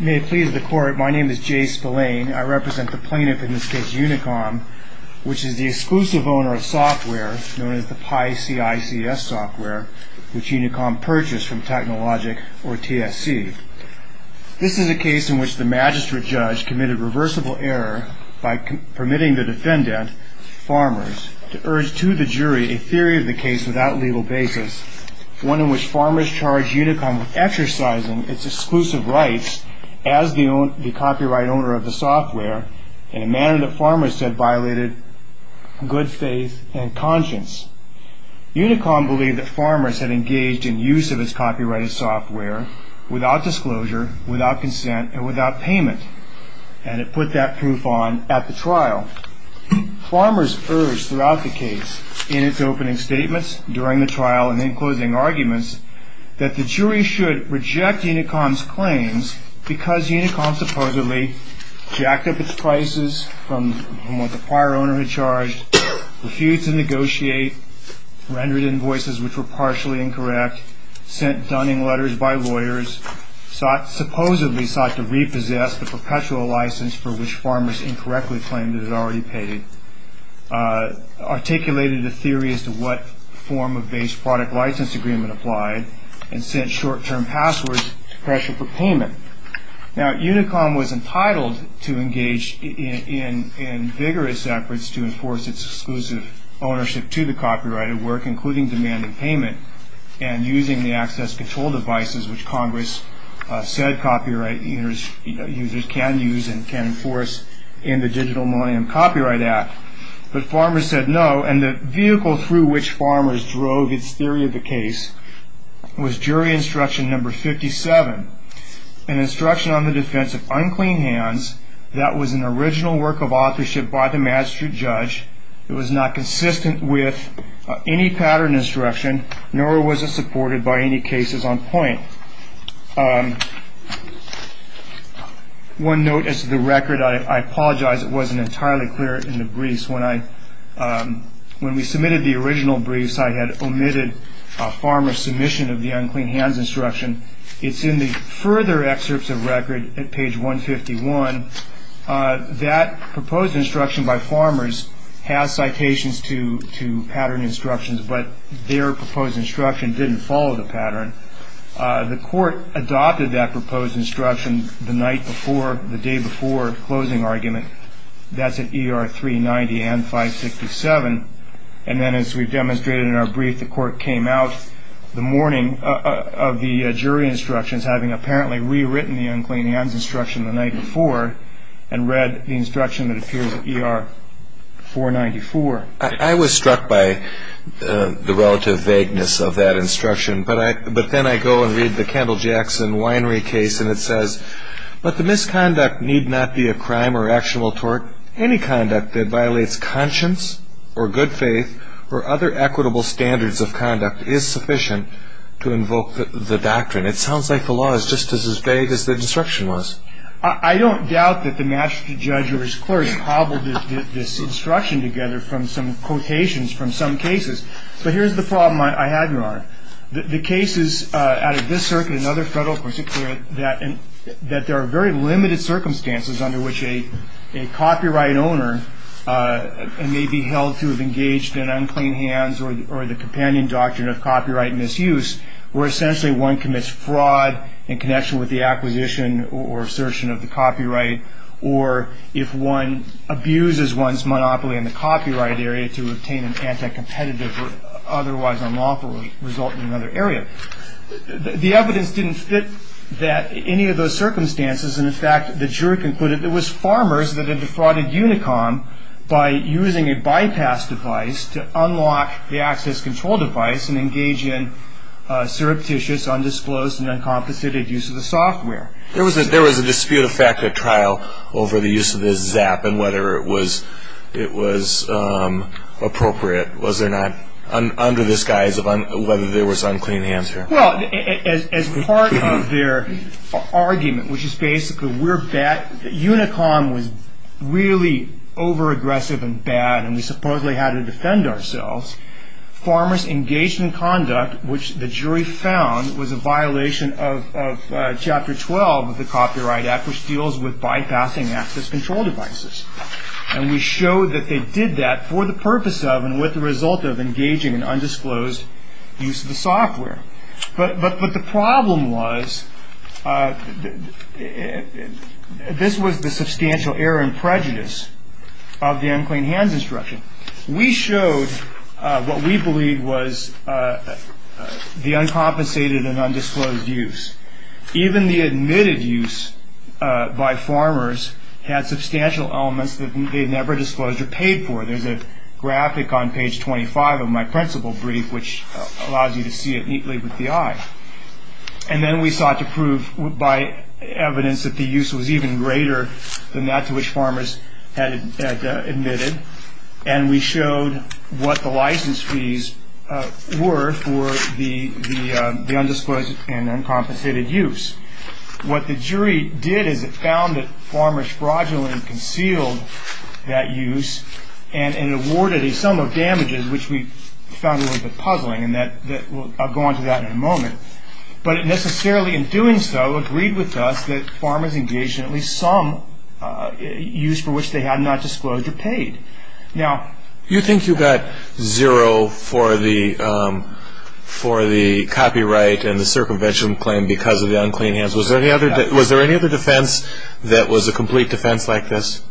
May it please the Court, my name is Jay Spillane. I represent the plaintiff in this case, UNICOM, which is the exclusive owner of software known as the Pi CICS software, which UNICOM purchased from Technologic, or TSC. This is a case in which the magistrate judge committed reversible error by permitting the defendant, Farmers, to urge to the jury a theory of the case without legal basis, one in which Farmers charged UNICOM with exercising its exclusive rights as the copyright owner of the software in a manner that Farmers said violated good faith and conscience. UNICOM believed that Farmers had engaged in use of its copyrighted software without disclosure, without consent, and without payment, and it put that proof on at the trial. Farmers urged throughout the case, in its opening statements, during the trial, and in closing arguments, that the jury should reject UNICOM's claims because UNICOM supposedly jacked up its prices from what the prior owner had charged, refused to negotiate, rendered invoices which were partially incorrect, sent dunning letters by lawyers, supposedly sought to repossess the perpetual license for which Farmers incorrectly claimed it had already paid, articulated a theory as to what form of base product license agreement applied, and sent short-term passwords to pressure for payment. Now, UNICOM was entitled to engage in vigorous efforts to enforce its exclusive ownership to the copyrighted work, including demanding payment and using the access control devices which Congress said copyright users can use and can enforce in the Digital Millennium Copyright Act, but Farmers said no, and the vehicle through which Farmers drove its theory of the case was jury instruction number 57. An instruction on the defense of unclean hands that was an original work of authorship by the magistrate judge. It was not consistent with any pattern instruction, nor was it supported by any cases on point. One note as to the record, I apologize it wasn't entirely clear in the briefs. When we submitted the original briefs, I had omitted Farmers' submission of the unclean hands instruction. It's in the further excerpts of record at page 151. That proposed instruction by Farmers has citations to pattern instructions, but their proposed instruction didn't follow the pattern. The court adopted that proposed instruction the night before, the day before closing argument. That's at ER 390 and 567. And then as we've demonstrated in our brief, the court came out the morning of the jury instructions having apparently rewritten the unclean hands instruction the night before and read the instruction that appears at ER 494. I was struck by the relative vagueness of that instruction. But then I go and read the Kendall Jackson winery case and it says, but the misconduct need not be a crime or actionable tort. Any conduct that violates conscience or good faith or other equitable standards of conduct is sufficient to invoke the doctrine. It sounds like the law is just as vague as the instruction was. I don't doubt that the master judge or his clerk cobbled this instruction together from some quotations from some cases. But here's the problem I have, Your Honor. The cases out of this circuit and other federal courts that there are very limited circumstances under which a copyright owner may be held to have engaged in unclean hands or the companion doctrine of copyright misuse where essentially one commits fraud in connection with the acquisition or assertion of the copyright, or if one abuses one's monopoly in the copyright area to obtain an anti-competitive or otherwise unlawful result in another area. The evidence didn't fit that any of those circumstances. And, in fact, the jury concluded it was farmers that had defrauded Unicom by using a bypass device to unlock the access control device and engage in surreptitious, undisclosed, and uncompensated use of the software. There was a dispute of fact at trial over the use of this ZAP and whether it was appropriate. Was there not, under the guise of whether there was unclean hands here? Well, as part of their argument, which is basically Unicom was really over-aggressive and bad and we supposedly had to defend ourselves, farmers engaged in conduct which the jury found was a violation of Chapter 12 of the Copyright Act, which deals with bypassing access control devices. And we showed that they did that for the purpose of and with the result of engaging in undisclosed use of the software. But the problem was this was the substantial error and prejudice of the unclean hands instruction. We showed what we believed was the uncompensated and undisclosed use. Even the admitted use by farmers had substantial elements that they never disclosed or paid for. There's a graphic on page 25 of my principal brief which allows you to see it neatly with the eye. And then we sought to prove by evidence that the use was even greater than that to which farmers had admitted. And we showed what the license fees were for the undisclosed and uncompensated use. What the jury did is it found that farmers fraudulently concealed that use and awarded a sum of damages, which we found a little bit puzzling and I'll go on to that in a moment. But it necessarily in doing so agreed with us that farmers engaged in at least some use for which they had not disclosed or paid. Now, you think you got zero for the copyright and the circumvention claim because of the unclean hands. Was there any other defense that was a complete defense like this?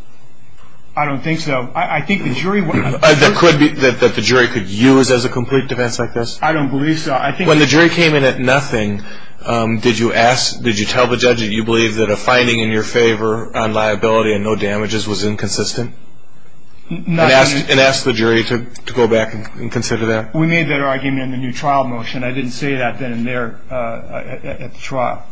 I don't think so. I think the jury would. That the jury could use as a complete defense like this? I don't believe so. When the jury came in at nothing, did you ask, did you tell the judge that you believe that a finding in your favor on liability and no damages was inconsistent? And ask the jury to go back and consider that? We made that argument in the new trial motion. I didn't say that then and there at the trial.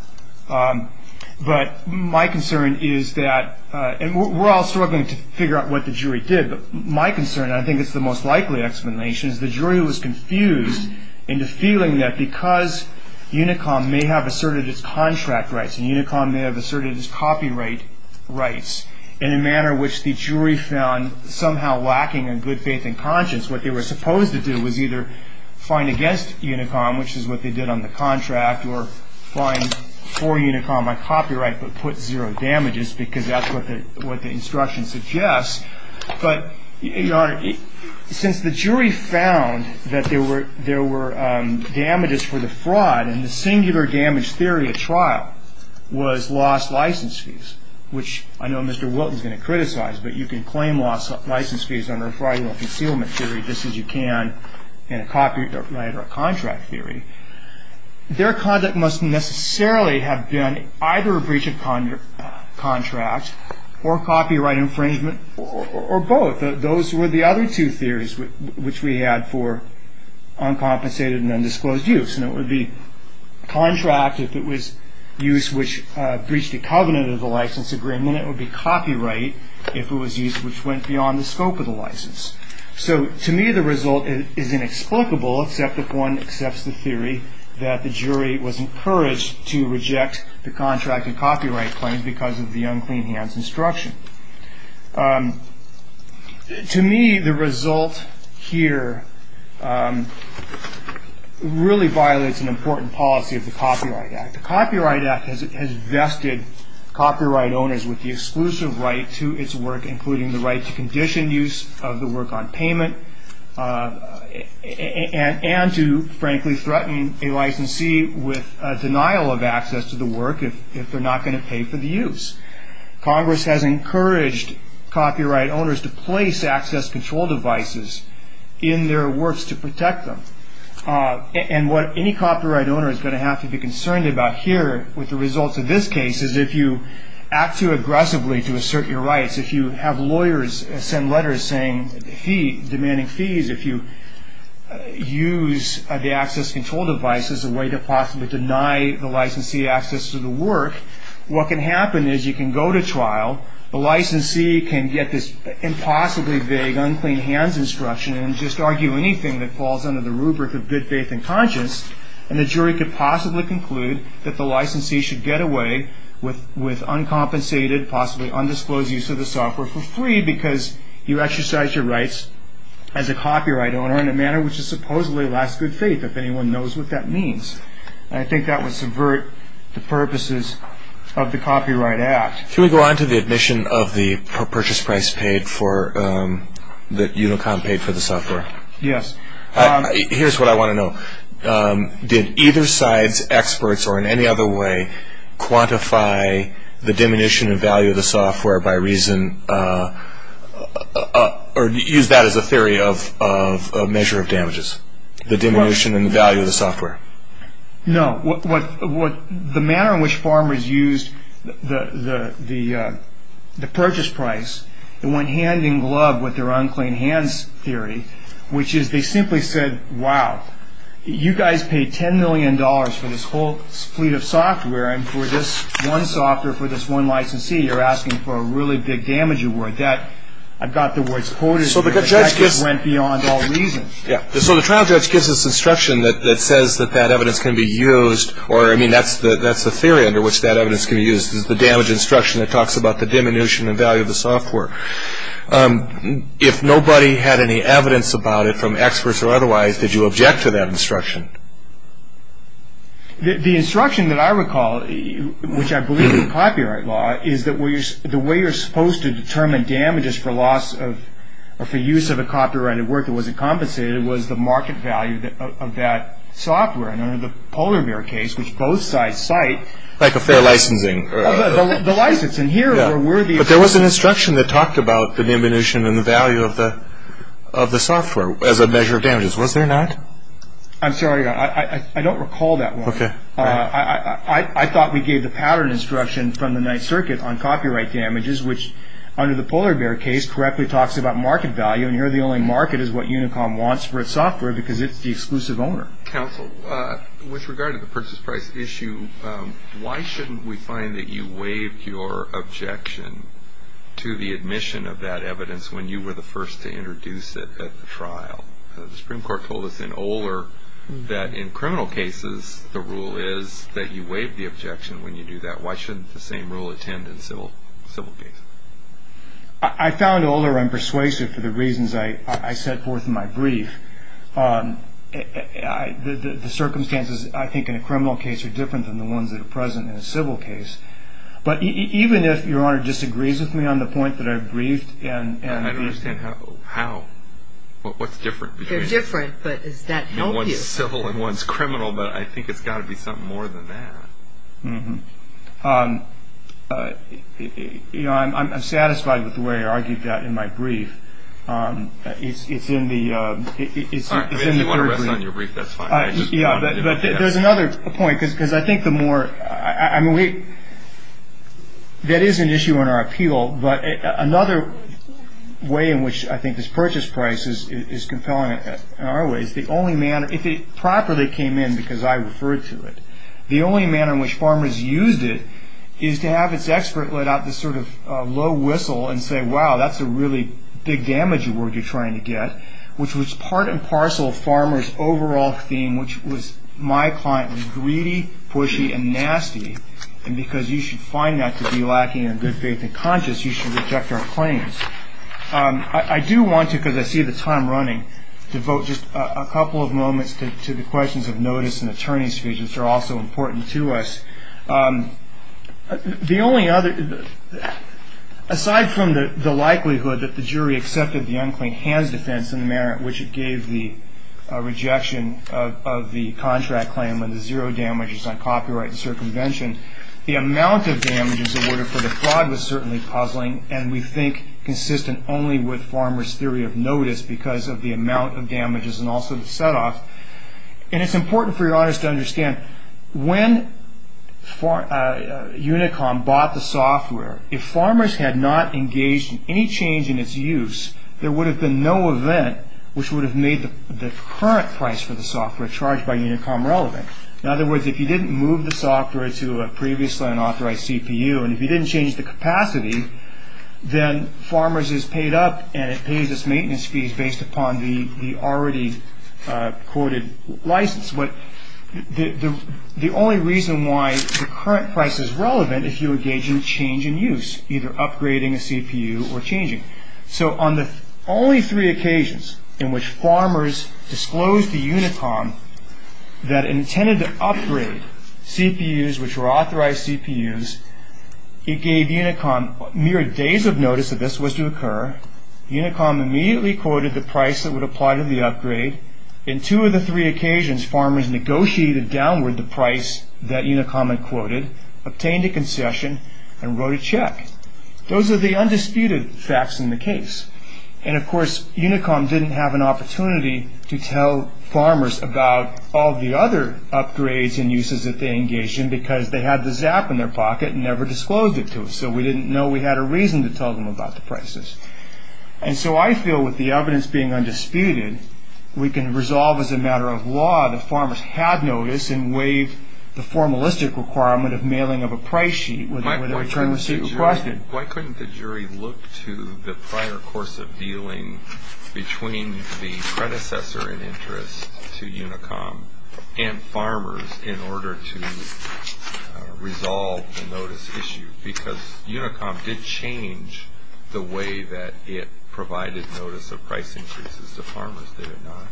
But my concern is that, and we're all struggling to figure out what the jury did, but my concern, I think it's the most likely explanation, is the jury was confused into feeling that because Unicom may have asserted its contract rights and Unicom may have asserted its copyright rights in a manner which the jury found somehow lacking in good faith and conscience, what they were supposed to do was either find against Unicom, which is what they did on the contract, or find for Unicom a copyright but put zero damages because that's what the instruction suggests. But, Your Honor, since the jury found that there were damages for the fraud and the singular damage theory at trial was lost license fees, which I know Mr. Wilton is going to criticize, but you can claim lost license fees under a fraudulent concealment theory just as you can in a copyright or a contract theory, their conduct must necessarily have been either a breach of contract or copyright infringement or both. Those were the other two theories which we had for uncompensated and undisclosed use. And it would be contract if it was use which breached the covenant of the license agreement. It would be copyright if it was use which went beyond the scope of the license. So, to me, the result is inexplicable except if one accepts the theory that the jury was encouraged to reject the contract and copyright claim because of the unclean hands instruction. To me, the result here really violates an important policy of the Copyright Act. The Copyright Act has vested copyright owners with the exclusive right to its work, including the right to condition use of the work on payment, and to frankly threaten a licensee with denial of access to the work if they're not going to pay for the use. Congress has encouraged copyright owners to place access control devices in their works to protect them. And what any copyright owner is going to have to be concerned about here with the results of this case is if you act too aggressively to assert your rights, if you have lawyers send letters demanding fees, if you use the access control device as a way to possibly deny the licensee access to the work, what can happen is you can go to trial, the licensee can get this impossibly vague unclean hands instruction and just argue anything that falls under the rubric of good faith and conscience, and the jury could possibly conclude that the licensee should get away with uncompensated, possibly undisclosed use of the software for free because you exercise your rights as a copyright owner in a manner which is supposedly a lack of good faith if anyone knows what that means. And I think that would subvert the purposes of the Copyright Act. Can we go on to the admission of the purchase price paid for, that Unicom paid for the software? Yes. Here's what I want to know. Did either side's experts or in any other way quantify the diminution in value of the software by reason, or use that as a theory of measure of damages, the diminution in value of the software? No. The manner in which farmers used the purchase price, they went hand-in-glove with their unclean hands theory, which is they simply said, wow, you guys paid $10 million for this whole fleet of software, and for this one software, for this one licensee, you're asking for a really big damage award. I've got the words quoted, but that just went beyond all reason. So the trial judge gives this instruction that says that that evidence can be used, or I mean that's the theory under which that evidence can be used, is the damage instruction that talks about the diminution in value of the software. If nobody had any evidence about it from experts or otherwise, did you object to that instruction? The instruction that I recall, which I believe in copyright law, is that the way you're supposed to determine damages for loss of, or for use of a copyrighted work that wasn't compensated was the market value of that software. And under the Polar Bear case, which both sides cite... Like a fair licensing. The license, and here were worthy of... But there was an instruction that talked about the diminution in the value of the software as a measure of damages. Was there not? I'm sorry, I don't recall that one. Okay. I thought we gave the pattern instruction from the Ninth Circuit on copyright damages, which under the Polar Bear case correctly talks about market value, and here the only market is what Unicom wants for its software because it's the exclusive owner. Counsel, with regard to the purchase price issue, why shouldn't we find that you waived your objection to the admission of that evidence when you were the first to introduce it at the trial? The Supreme Court told us in Oler that in criminal cases the rule is that you waive the objection when you do that. Why shouldn't the same rule attend in civil cases? I found Oler unpersuasive for the reasons I set forth in my brief. The circumstances, I think, in a criminal case are different than the ones that are present in a civil case. But even if Your Honor disagrees with me on the point that I've briefed and... I understand how. What's different? They're different, but does that help you? One's civil and one's criminal, but I think it's got to be something more than that. I'm satisfied with the way I argued that in my brief. It's in the third brief. If you want to rest on your brief, that's fine. Yeah, but there's another point because I think the more... That is an issue in our appeal, but another way in which I think this purchase price is compelling in our way is the only manner, if it properly came in because I referred to it, the only manner in which farmers used it is to have its expert let out this sort of low whistle and say, wow, that's a really big damage award you're trying to get, which was part and parcel of farmers' overall theme, which was my client was greedy, pushy, and nasty, and because you should find that to be lacking in good faith and conscience, you should reject our claims. I do want to, because I see the time running, devote just a couple of moments to the questions of notice and attorney's fees, which are also important to us. The only other... Aside from the likelihood that the jury accepted the unclean hands defense in the manner in which it gave the rejection of the contract claim and the zero damages on copyright and circumvention, the amount of damages awarded for the fraud was certainly puzzling and we think consistent only with farmers' theory of notice because of the amount of damages and also the set-off, and it's important for your honors to understand when Unicom bought the software, if farmers had not engaged in any change in its use, there would have been no event which would have made the current price for the software charged by Unicom relevant. In other words, if you didn't move the software to a previously unauthorized CPU and if you didn't change the capacity, then farmers is paid up and it pays its maintenance fees based upon the already quoted license. The only reason why the current price is relevant is if you engage in change in use, either upgrading a CPU or changing. So on the only three occasions in which farmers disclosed to Unicom that it intended to upgrade CPUs which were authorized CPUs, it gave Unicom mere days of notice that this was to occur. Unicom immediately quoted the price that would apply to the upgrade. In two of the three occasions, farmers negotiated downward the price that Unicom had quoted, obtained a concession, and wrote a check. Those are the undisputed facts in the case. And of course, Unicom didn't have an opportunity to tell farmers about all the other upgrades and uses that they engaged in because they had the ZAP in their pocket and never disclosed it to us, so we didn't know we had a reason to tell them about the prices. And so I feel with the evidence being undisputed, we can resolve as a matter of law that farmers had notice and waived the formalistic requirement of mailing of a price sheet with a return receipt requested. Why couldn't the jury look to the prior course of dealing between the predecessor in interest to Unicom and farmers in order to resolve the notice issue? Because Unicom did change the way that it provided notice of price increases to farmers, did it not?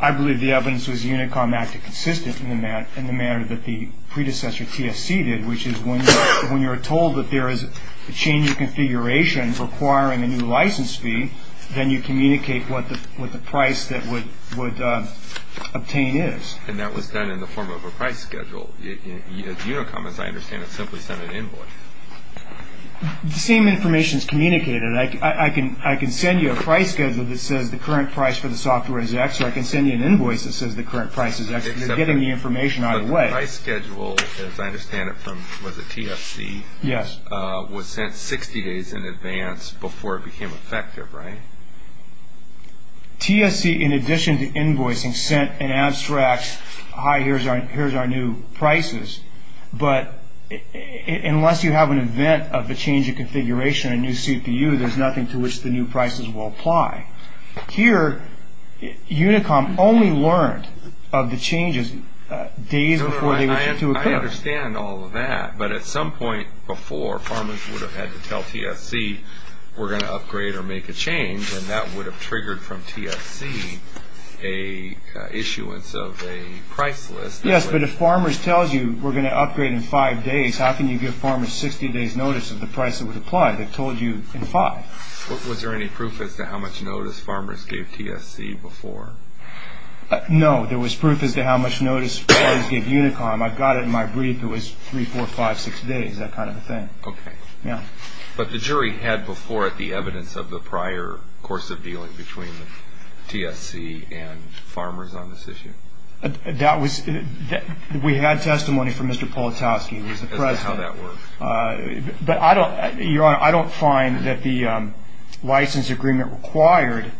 I believe the evidence was Unicom acted consistent in the manner that the predecessor, TSC, did, which is when you're told that there is a change in configuration requiring a new license fee, then you communicate what the price that would obtain is. And that was done in the form of a price schedule. Unicom, as I understand it, simply sent an invoice. The same information is communicated. I can send you a price schedule that says the current price for the software is X, or I can send you an invoice that says the current price is X. It's getting the information out of the way. But the price schedule, as I understand it from, was it TSC? Yes. Was sent 60 days in advance before it became effective, right? TSC, in addition to invoicing, sent an abstract, yes, hi, here's our new prices. But unless you have an event of a change in configuration, a new CPU, there's nothing to which the new prices will apply. Here, Unicom only learned of the changes days before they were due to occur. I understand all of that. But at some point before, farmers would have had to tell TSC, we're going to upgrade or make a change, and that would have triggered from TSC an issuance of a price list. Yes, but if farmers tell you we're going to upgrade in five days, how can you give farmers 60 days notice of the price that would apply? They've told you in five. Was there any proof as to how much notice farmers gave TSC before? No, there was proof as to how much notice farmers gave Unicom. I've got it in my brief. It was three, four, five, six days, that kind of a thing. Okay. But the jury had before it the evidence of the prior course of dealing between TSC and farmers on this issue? We had testimony from Mr. Politaski, who was the president. As to how that worked? Your Honor, I don't find that the license agreement required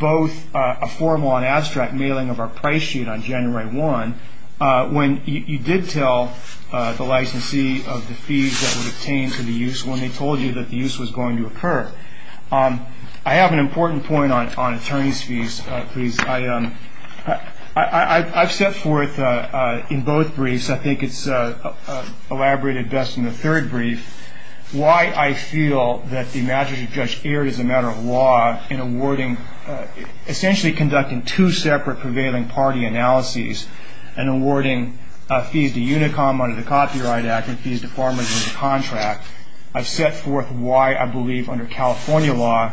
both a formal and abstract mailing of our price sheet on January 1, when you did tell the licensee of the fees that were obtained for the use, when they told you that the use was going to occur. I have an important point on attorney's fees, please. I've set forth in both briefs, I think it's elaborated best in the third brief, why I feel that the imaginative judge erred as a matter of law in awarding, essentially conducting two separate prevailing party analyses and awarding fees to Unicom under the Copyright Act and fees to farmers under the contract. I've set forth why I believe under California law,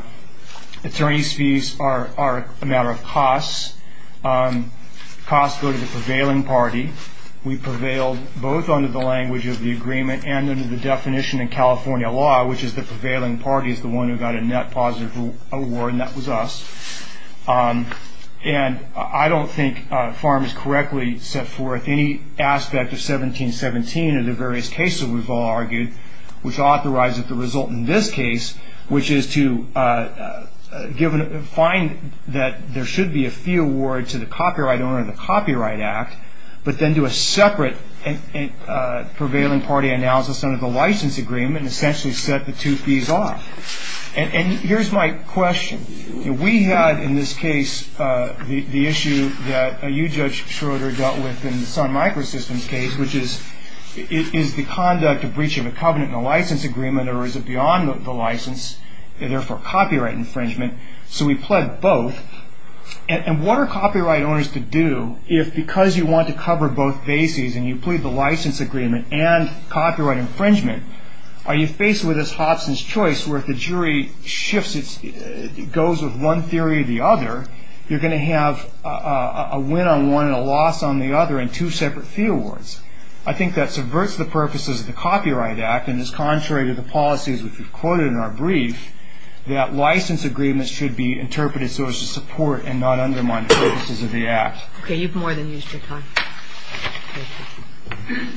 attorney's fees are a matter of costs. Costs go to the prevailing party. We prevailed both under the language of the agreement and under the definition in California law, which is the prevailing party is the one who got a net positive award, and that was us. And I don't think farms correctly set forth any aspect of 1717 or the various cases we've all argued, which authorizes the result in this case, which is to find that there should be a fee award to the copyright owner under the Copyright Act, but then do a separate prevailing party analysis under the license agreement and essentially set the two fees off. And here's my question. We had in this case the issue that you, Judge Schroeder, dealt with in the Sun Microsystems case, which is is the conduct of breach of a covenant in a license agreement or is it beyond the license and therefore copyright infringement? So we pled both. And what are copyright owners to do if because you want to cover both bases and you plead the license agreement and copyright infringement, are you faced with this Hobson's choice where if the jury shifts, goes with one theory or the other, you're going to have a win on one and a loss on the other and two separate fee awards? I think that subverts the purposes of the Copyright Act and is contrary to the policies we've quoted in our brief that license agreements should be interpreted so as to support and not undermine the purposes of the Act. Okay, you've more than used your time. Thank you.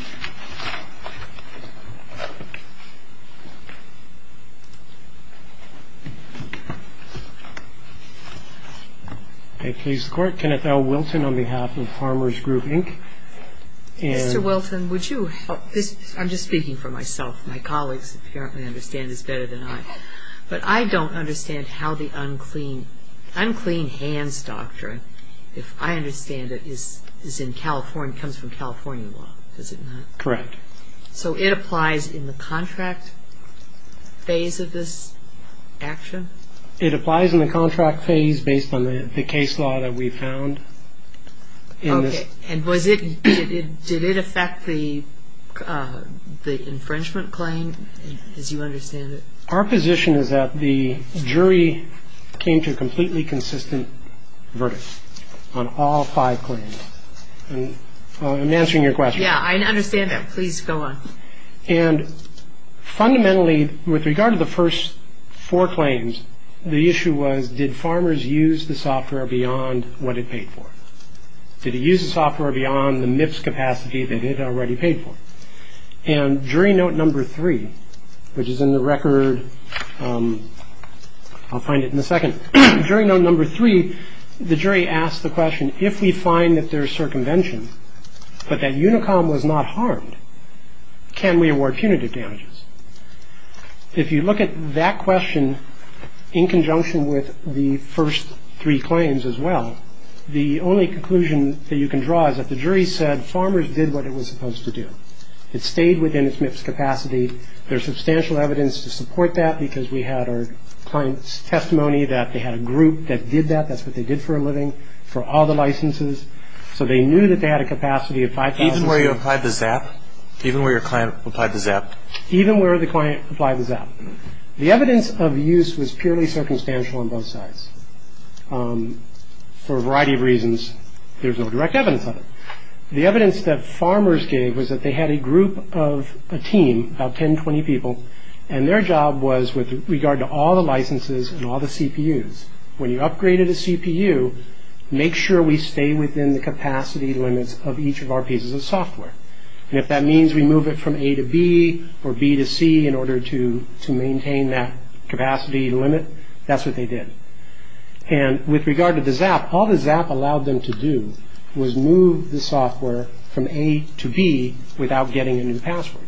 A case court, Kenneth L. Wilton on behalf of Farmers Group, Inc. Mr. Wilton, would you help this? I'm just speaking for myself. My colleagues apparently understand this better than I. But I don't understand how the unclean hands doctrine, if I understand it, comes from California law, does it not? Correct. So it applies in the contract phase of this action? It applies in the contract phase based on the case law that we found. Okay. And did it affect the infringement claim as you understand it? Our position is that the jury came to a completely consistent verdict on all five claims. I'm answering your question. Yeah, I understand that. Please go on. And fundamentally, with regard to the first four claims, the issue was did farmers use the software beyond what it paid for? Did it use the software beyond the MIPS capacity that it had already paid for? And jury note number three, which is in the record, I'll find it in a second. Jury note number three, the jury asked the question, if we find that there is circumvention but that Unicom was not harmed, can we award punitive damages? If you look at that question in conjunction with the first three claims as well, the only conclusion that you can draw is that the jury said farmers did what it was supposed to do. It stayed within its MIPS capacity. There's substantial evidence to support that because we had our client's testimony that they had a group that did that. That's what they did for a living, for all the licenses. So they knew that they had a capacity of 5,000. Even where you applied the ZAP? Even where your client applied the ZAP? Even where the client applied the ZAP. The evidence of use was purely circumstantial on both sides. For a variety of reasons, there's no direct evidence of it. The evidence that farmers gave was that they had a group of a team, about 10, 20 people, and their job was with regard to all the licenses and all the CPUs, when you upgraded a CPU, make sure we stay within the capacity limits of each of our pieces of software. And if that means we move it from A to B or B to C in order to maintain that capacity limit, that's what they did. And with regard to the ZAP, all the ZAP allowed them to do was move the software from A to B without getting a new password.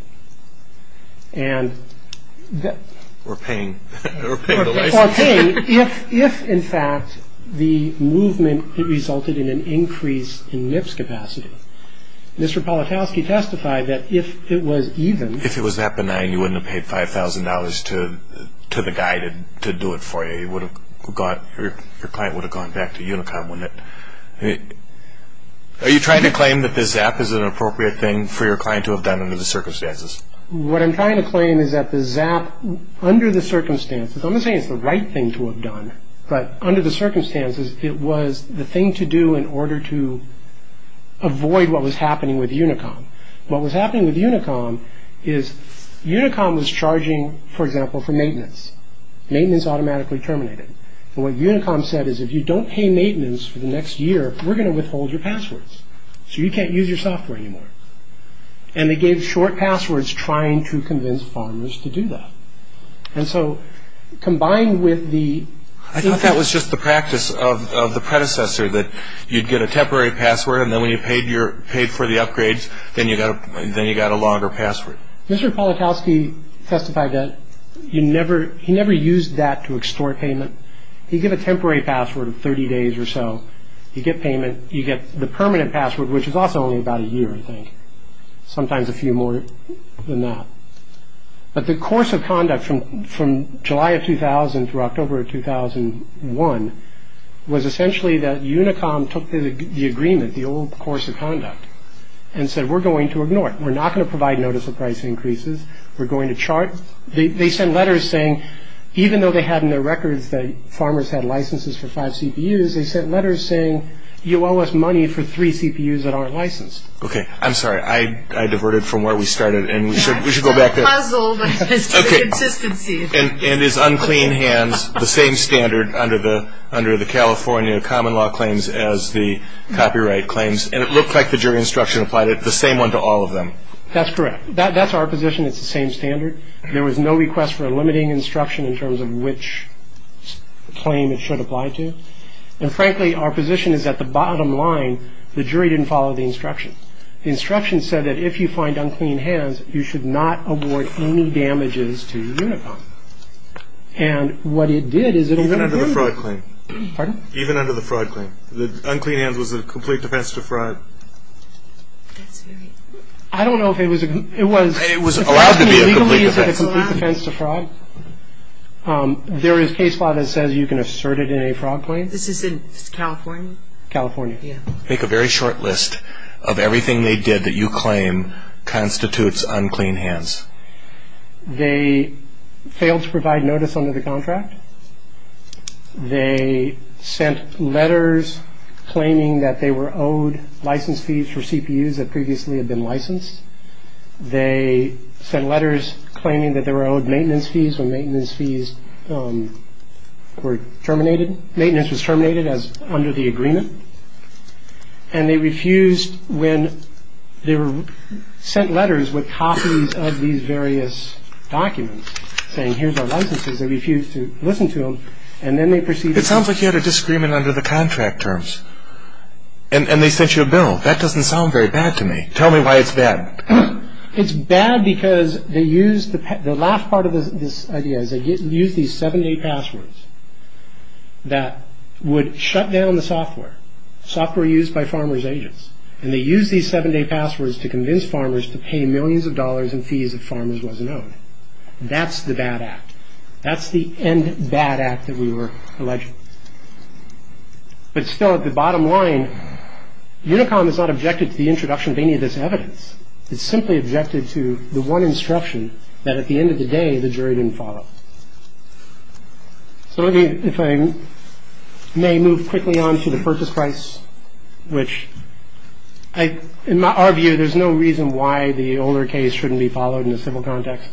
We're paying. We're paying the license. We're paying if, in fact, the movement resulted in an increase in MIPS capacity. Mr. Politowsky testified that if it was even... If it was that benign, you wouldn't have paid $5,000 to the guy to do it for you. You would have got... Your client would have gone back to Unicom. Are you trying to claim that the ZAP is an appropriate thing for your client to have done under the circumstances? What I'm trying to claim is that the ZAP, under the circumstances... I'm not saying it's the right thing to have done, but under the circumstances, it was the thing to do in order to avoid what was happening with Unicom. What was happening with Unicom is Unicom was charging, for example, for maintenance. Maintenance automatically terminated. What Unicom said is, if you don't pay maintenance for the next year, we're going to withhold your passwords, so you can't use your software anymore. And they gave short passwords trying to convince farmers to do that. And so, combined with the... I thought that was just the practice of the predecessor, that you'd get a temporary password, and then when you paid for the upgrades, then you got a longer password. Mr. Polakowski testified that he never used that to extort payment. You get a temporary password of 30 days or so. You get payment. You get the permanent password, which is also only about a year, I think. Sometimes a few more than that. But the course of conduct from July of 2000 through October of 2001 was essentially that Unicom took the agreement, the old course of conduct, and said, we're going to ignore it. We're not going to provide notice of price increases. We're going to chart. They sent letters saying, even though they had in their records that farmers had licenses for five CPUs, they sent letters saying, you owe us money for three CPUs that aren't licensed. Okay. I'm sorry. I diverted from where we started, and we should go back there. It's not a puzzle, but it's consistency. And it's unclean hands, the same standard under the California common law claims as the copyright claims. And it looked like the jury instruction applied the same one to all of them. That's correct. That's our position. It's the same standard. There was no request for a limiting instruction in terms of which claim it should apply to. And frankly, our position is that the bottom line, the jury didn't follow the instruction. The instruction said that if you find unclean hands, you should not award any damages to Unicom. And what it did is it eliminated them. Even under the fraud claim. Pardon? Even under the fraud claim. The unclean hands was a complete defense to fraud. I don't know if it was. It was allowed to be a complete defense to fraud. There is case law that says you can assert it in a fraud claim. This is in California? California. Yeah. Make a very short list of everything they did that you claim constitutes unclean hands. They failed to provide notice under the contract. They sent letters claiming that they were owed license fees for CPUs that previously had been licensed. They sent letters claiming that they were owed maintenance fees or maintenance fees were terminated. Maintenance was terminated as under the agreement. And they refused when they were sent letters with copies of these various documents saying here's our licenses. They refused to listen to them. And then they proceeded. It sounds like you had a disagreement under the contract terms. And they sent you a bill. That doesn't sound very bad to me. Tell me why it's bad. It's bad because they used the last part of this idea is they used these seven-day passwords that would shut down the software. Software used by farmer's agents. And they used these seven-day passwords to convince farmers to pay millions of dollars in fees if farmers wasn't owed. That's the bad act. That's the end bad act that we were alleged. But still at the bottom line, Unicom is not objected to the introduction of any of this evidence. It's simply objected to the one instruction that at the end of the day the jury didn't follow. So if I may move quickly on to the purchase price, which in our view there's no reason why the older case shouldn't be followed in a civil context.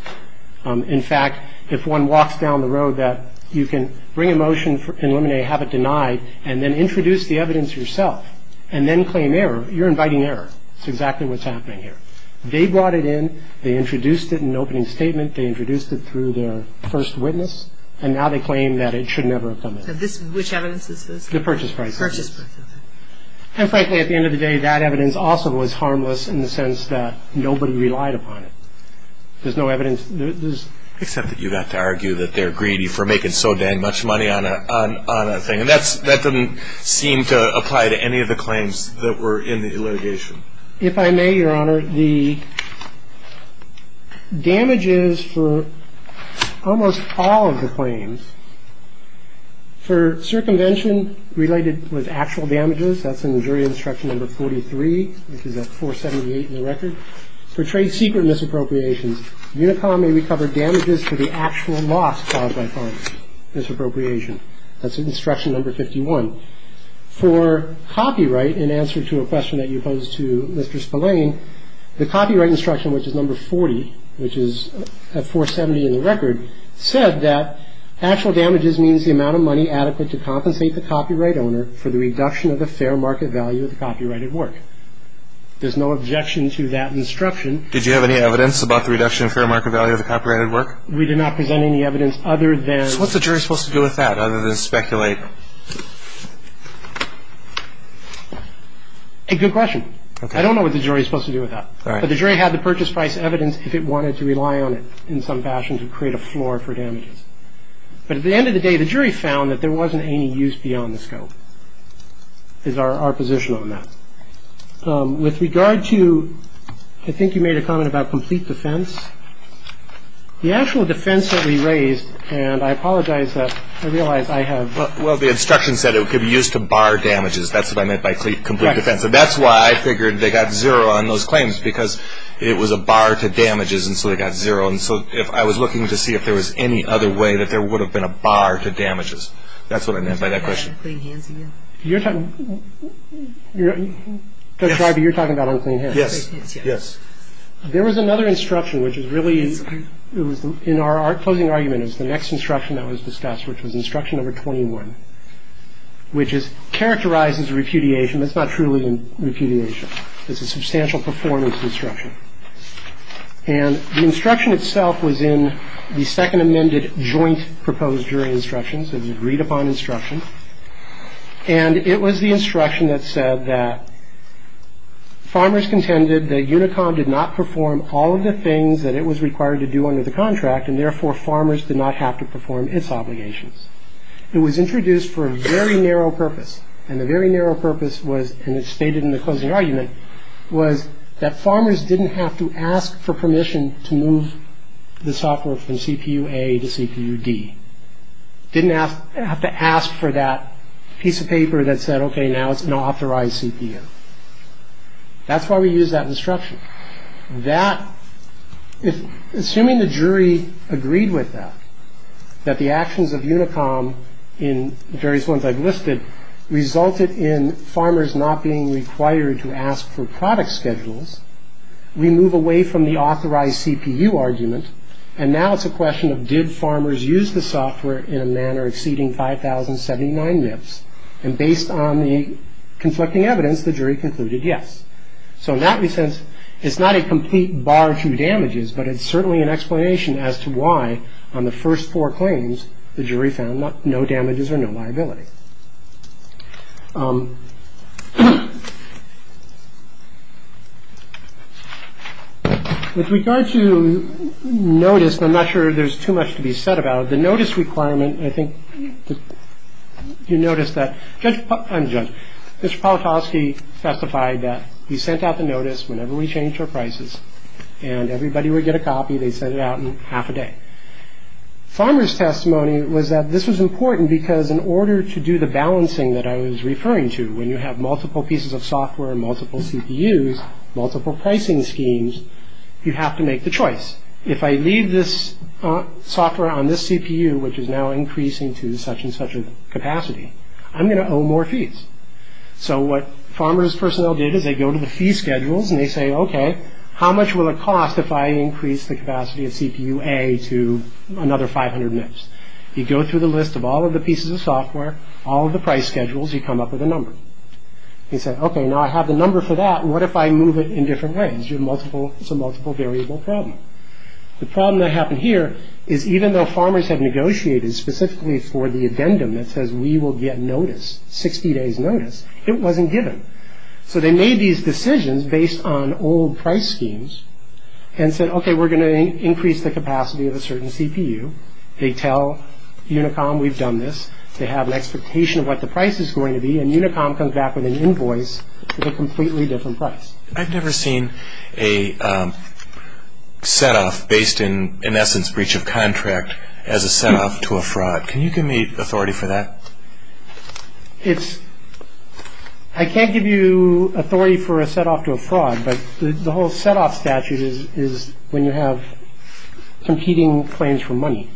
In fact, if one walks down the road that you can bring a motion in limine, have it denied, and then introduce the evidence yourself and then claim error, you're inviting error. That's exactly what's happening here. They brought it in. They introduced it in an opening statement. They introduced it through their first witness. And now they claim that it should never have come in. Which evidence is this? The purchase price. Purchase price. And frankly, at the end of the day, that evidence also was harmless in the sense that nobody relied upon it. There's no evidence. Except that you got to argue that they're greedy for making so dang much money on a thing. And that doesn't seem to apply to any of the claims that were in the litigation. If I may, Your Honor, the damages for almost all of the claims for circumvention related with actual damages, that's in the jury instruction number 43, which is at 478 in the record. For trade secret misappropriations, Unicom may recover damages for the actual loss caused by misappropriation. That's instruction number 51. For copyright, in answer to a question that you posed to Mr. Spillane, the copyright instruction, which is number 40, which is at 470 in the record, said that actual damages means the amount of money adequate to compensate the copyright owner for the reduction of the fair market value of the copyrighted work. There's no objection to that instruction. Did you have any evidence about the reduction of fair market value of the copyrighted work? We did not present any evidence other than So what's the jury supposed to do with that other than speculate? Good question. I don't know what the jury is supposed to do with that. But the jury had the purchase price evidence if it wanted to rely on it in some fashion to create a floor for damages. But at the end of the day, the jury found that there wasn't any use beyond the scope. Is our position on that with regard to. I think you made a comment about complete defense. The actual defense that we raised. And I apologize that I realize I have. Well, the instruction said it could be used to bar damages. That's what I meant by complete defense. And that's why I figured they got zero on those claims, because it was a bar to damages. And so they got zero. And so if I was looking to see if there was any other way that there would have been a bar to damages. That's what I meant by that question. You're talking. You're talking about unclean hands. Yes. Yes. There was another instruction, which is really in our closing argument is the next instruction that was discussed, which was instruction number 21, which is characterized as repudiation. That's not truly repudiation. It's a substantial performance instruction. And the instruction itself was in the second amended joint proposed jury instructions. It was agreed upon instruction. And it was the instruction that said that. Farmers contended that Unicom did not perform all of the things that it was required to do under the contract, and therefore farmers did not have to perform its obligations. It was introduced for a very narrow purpose. And the very narrow purpose was, and it's stated in the closing argument, was that farmers didn't have to ask for permission to move the software from CPU A to CPU D. Didn't have to ask for that piece of paper that said, OK, now it's an authorized CPU. That's why we use that instruction. That, assuming the jury agreed with that, that the actions of Unicom in various ones I've listed resulted in farmers not being required to ask for product schedules, we move away from the authorized CPU argument, and now it's a question of did farmers use the software in a manner exceeding 5,079 MIPS. And based on the conflicting evidence, the jury concluded yes. So in that sense, it's not a complete bar to damages, but it's certainly an explanation as to why, on the first four claims, the jury found no damages or no liability. With regard to notice, I'm not sure there's too much to be said about it. The notice requirement, I think you notice that Judge Politosky testified that he sent out the notice whenever we change our prices and everybody would get a copy. They sent it out in half a day. Farmer's testimony was that this was important because in order to do the balancing that I was referring to, when you have multiple pieces of software and multiple CPUs, multiple pricing schemes, you have to make the choice. If I leave this software on this CPU, which is now increasing to such and such a capacity, I'm going to owe more fees. So what farmer's personnel did is they go to the fee schedules and they say, OK, how much will it cost if I increase the capacity of CPU A to another 500 MIPS? You go through the list of all of the pieces of software, all of the price schedules, you come up with a number. They said, OK, now I have the number for that, what if I move it in different ways? It's a multiple variable problem. The problem that happened here is even though farmers have negotiated specifically for the addendum that says we will get notice, 60 days notice, it wasn't given. So they made these decisions based on old price schemes and said, OK, we're going to increase the capacity of a certain CPU. They tell Unicom we've done this. They have an expectation of what the price is going to be, and Unicom comes back with an invoice at a completely different price. I've never seen a set-off based in essence breach of contract as a set-off to a fraud. Can you give me authority for that? It's, I can't give you authority for a set-off to a fraud, but the whole set-off statute is when you have competing claims for money.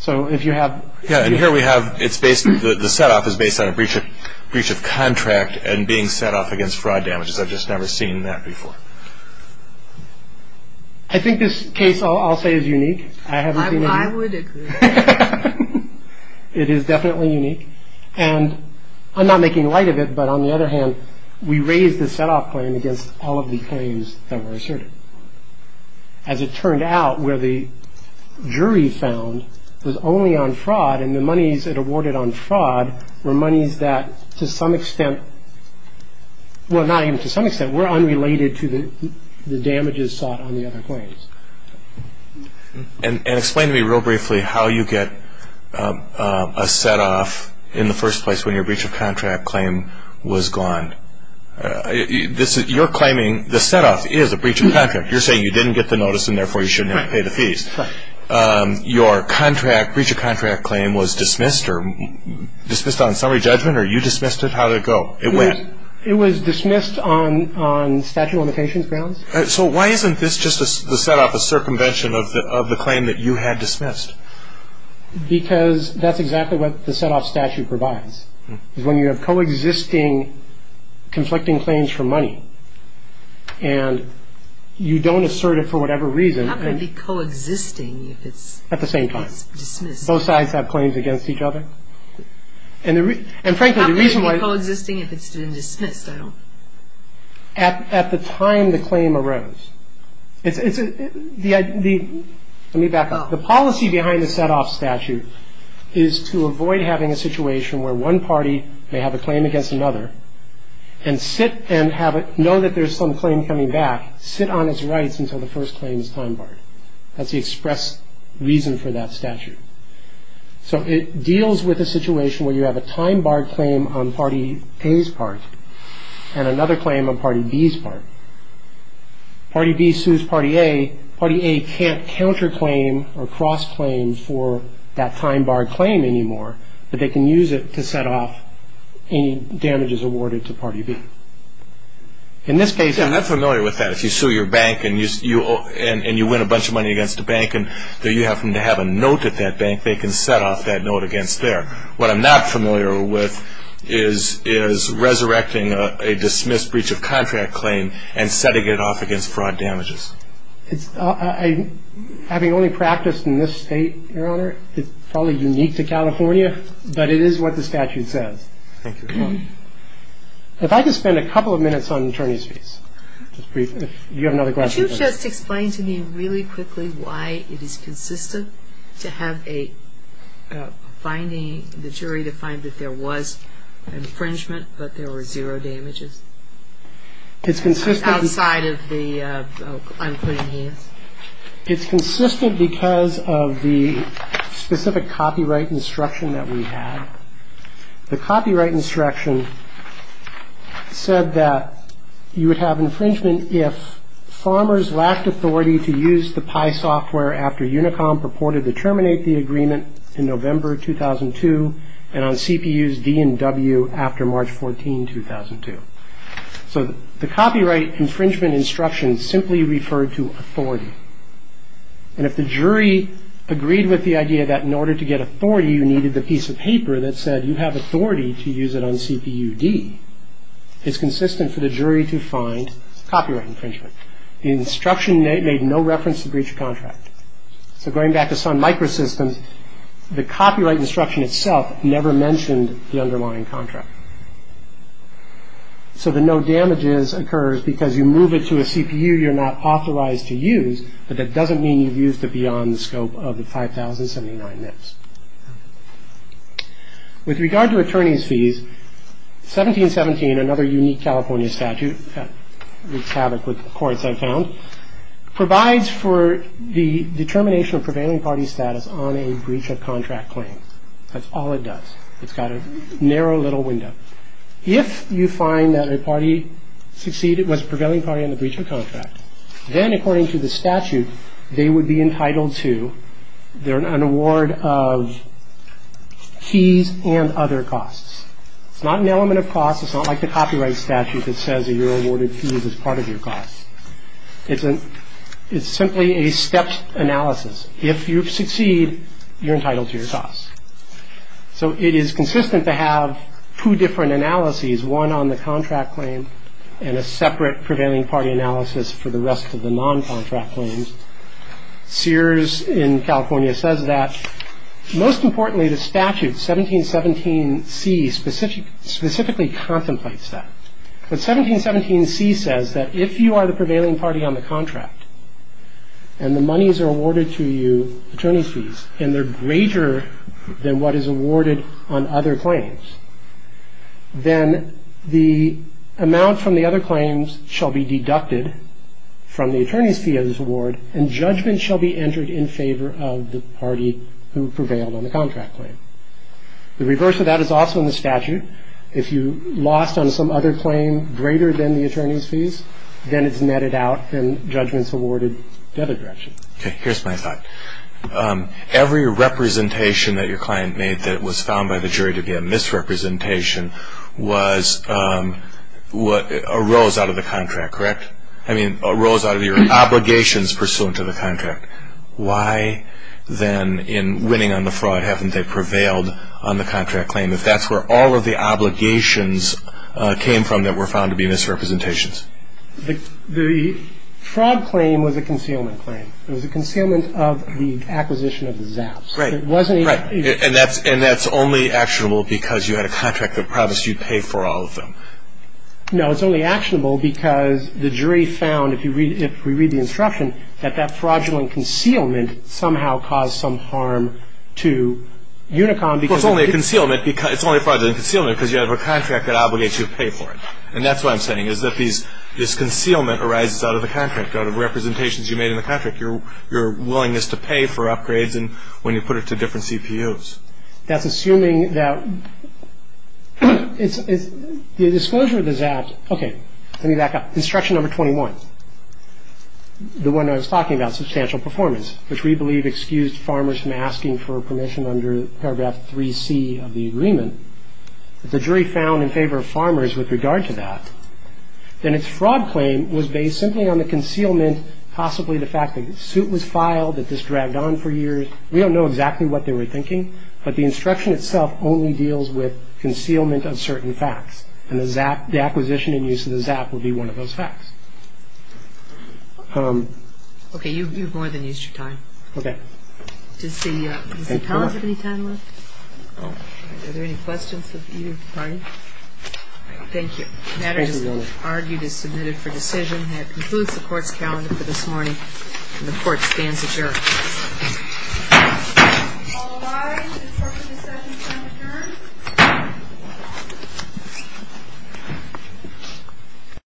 So if you have. Yeah, and here we have, it's based, the set-off is based on a breach of contract and being set-off against fraud damages. I've just never seen that before. I think this case, I'll say, is unique. I would agree. It is definitely unique. And I'm not making light of it, but on the other hand, we raised the set-off claim against all of the claims that were asserted. As it turned out, where the jury found was only on fraud, and the monies it awarded on fraud were monies that to some extent, Well, not even to some extent. We're unrelated to the damages sought on the other claims. And explain to me real briefly how you get a set-off in the first place when your breach of contract claim was gone. You're claiming the set-off is a breach of contract. You're saying you didn't get the notice and therefore you shouldn't have to pay the fees. Correct. Your contract, breach of contract claim was dismissed or dismissed on summary judgment or you dismissed it? How did it go? It went? It was dismissed on statute of limitations grounds. So why isn't this just the set-off, a circumvention of the claim that you had dismissed? Because that's exactly what the set-off statute provides, is when you have coexisting conflicting claims for money and you don't assert it for whatever reason. How can it be coexisting if it's dismissed? At the same time. Both sides have claims against each other. And frankly, the reason why. How can it be coexisting if it's been dismissed? At the time the claim arose. Let me back up. The policy behind the set-off statute is to avoid having a situation where one party may have a claim against another and sit and know that there's some claim coming back, sit on its rights until the first claim is time barred. That's the express reason for that statute. So it deals with a situation where you have a time-barred claim on party A's part and another claim on party B's part. Party B sues party A. Party A can't counter-claim or cross-claim for that time-barred claim anymore, but they can use it to set off any damages awarded to party B. In this case... Yeah, I'm not familiar with that. If you sue your bank and you win a bunch of money against the bank and you happen to have a note at that bank, they can set off that note against there. What I'm not familiar with is resurrecting a dismissed breach of contract claim and setting it off against fraud damages. Having only practiced in this state, Your Honor, it's probably unique to California, but it is what the statute says. Thank you. If I could spend a couple of minutes on attorney's fees. Do you have another question? Could you just explain to me really quickly why it is consistent to have a finding, the jury to find that there was infringement but there were zero damages? It's consistent... Outside of the... I'm putting hands. It's consistent because of the specific copyright instruction that we had. The copyright instruction said that you would have infringement if farmers lacked authority to use the PI software after Unicom purported to terminate the agreement in November 2002 and on CPUs D and W after March 14, 2002. So the copyright infringement instruction simply referred to authority. And if the jury agreed with the idea that in order to get authority, you needed the piece of paper that said you have authority to use it on CPU D, it's consistent for the jury to find copyright infringement. The instruction made no reference to breach of contract. So going back to Sun Microsystems, the copyright instruction itself never mentioned the underlying contract. So the no damages occurs because you move it to a CPU you're not authorized to use, but that doesn't mean you've used it beyond the scope of the 5,079 MIPS. With regard to attorney's fees, 1717, another unique California statute, wreaks havoc with courts I've found, provides for the determination of prevailing party status on a breach of contract claim. That's all it does. It's got a narrow little window. If you find that a party succeeded, was prevailing party on the breach of contract, then according to the statute, they would be entitled to an award of fees and other costs. It's not an element of costs. It's not like the copyright statute that says you're awarded fees as part of your costs. It's simply a stepped analysis. If you succeed, you're entitled to your costs. So it is consistent to have two different analyses, one on the contract claim and a separate prevailing party analysis for the rest of the non-contract claims. Sears in California says that. Most importantly, the statute, 1717C, specifically contemplates that. But 1717C says that if you are the prevailing party on the contract and the monies are awarded to you, attorney's fees, and they're greater than what is awarded on other claims, then the amount from the other claims shall be deducted from the attorney's fee of this award and judgment shall be entered in favor of the party who prevailed on the contract claim. The reverse of that is also in the statute. If you lost on some other claim greater than the attorney's fees, then it's netted out and judgment's awarded the other direction. Okay. Here's my thought. Every representation that your client made that was found by the jury to be a misrepresentation arose out of the contract, correct? I mean, arose out of your obligations pursuant to the contract. Why then in winning on the fraud haven't they prevailed on the contract claim if that's where all of the obligations came from that were found to be misrepresentations? The fraud claim was a concealment claim. It was a concealment of the acquisition of the Zaps. Right. And that's only actionable because you had a contract that promised you'd pay for all of them. No. It's only actionable because the jury found, if we read the instruction, that that fraudulent concealment somehow caused some harm to Unicom because it did. Well, it's only a fraudulent concealment because you have a contract that obligates you to pay for it. And that's what I'm saying is that this concealment arises out of the contract, out of representations you made in the contract, your willingness to pay for upgrades when you put it to different CPUs. That's assuming that it's the disclosure of the Zaps. Okay. Let me back up. Instruction number 21, the one I was talking about, substantial performance, which we believe excused farmers from asking for permission under paragraph 3C of the agreement. If the jury found in favor of farmers with regard to that, then its fraud claim was based simply on the concealment, possibly the fact that the suit was filed, that this dragged on for years. We don't know exactly what they were thinking, but the instruction itself only deals with concealment of certain facts, and the acquisition and use of the Zap would be one of those facts. Okay. You've more than used your time. Okay. Does the panel have any time left? Are there any questions of either party? Thank you. The matter, as argued, is submitted for decision. That concludes the court's calendar for this morning. The court stands adjourned. All rise. The court is adjourned.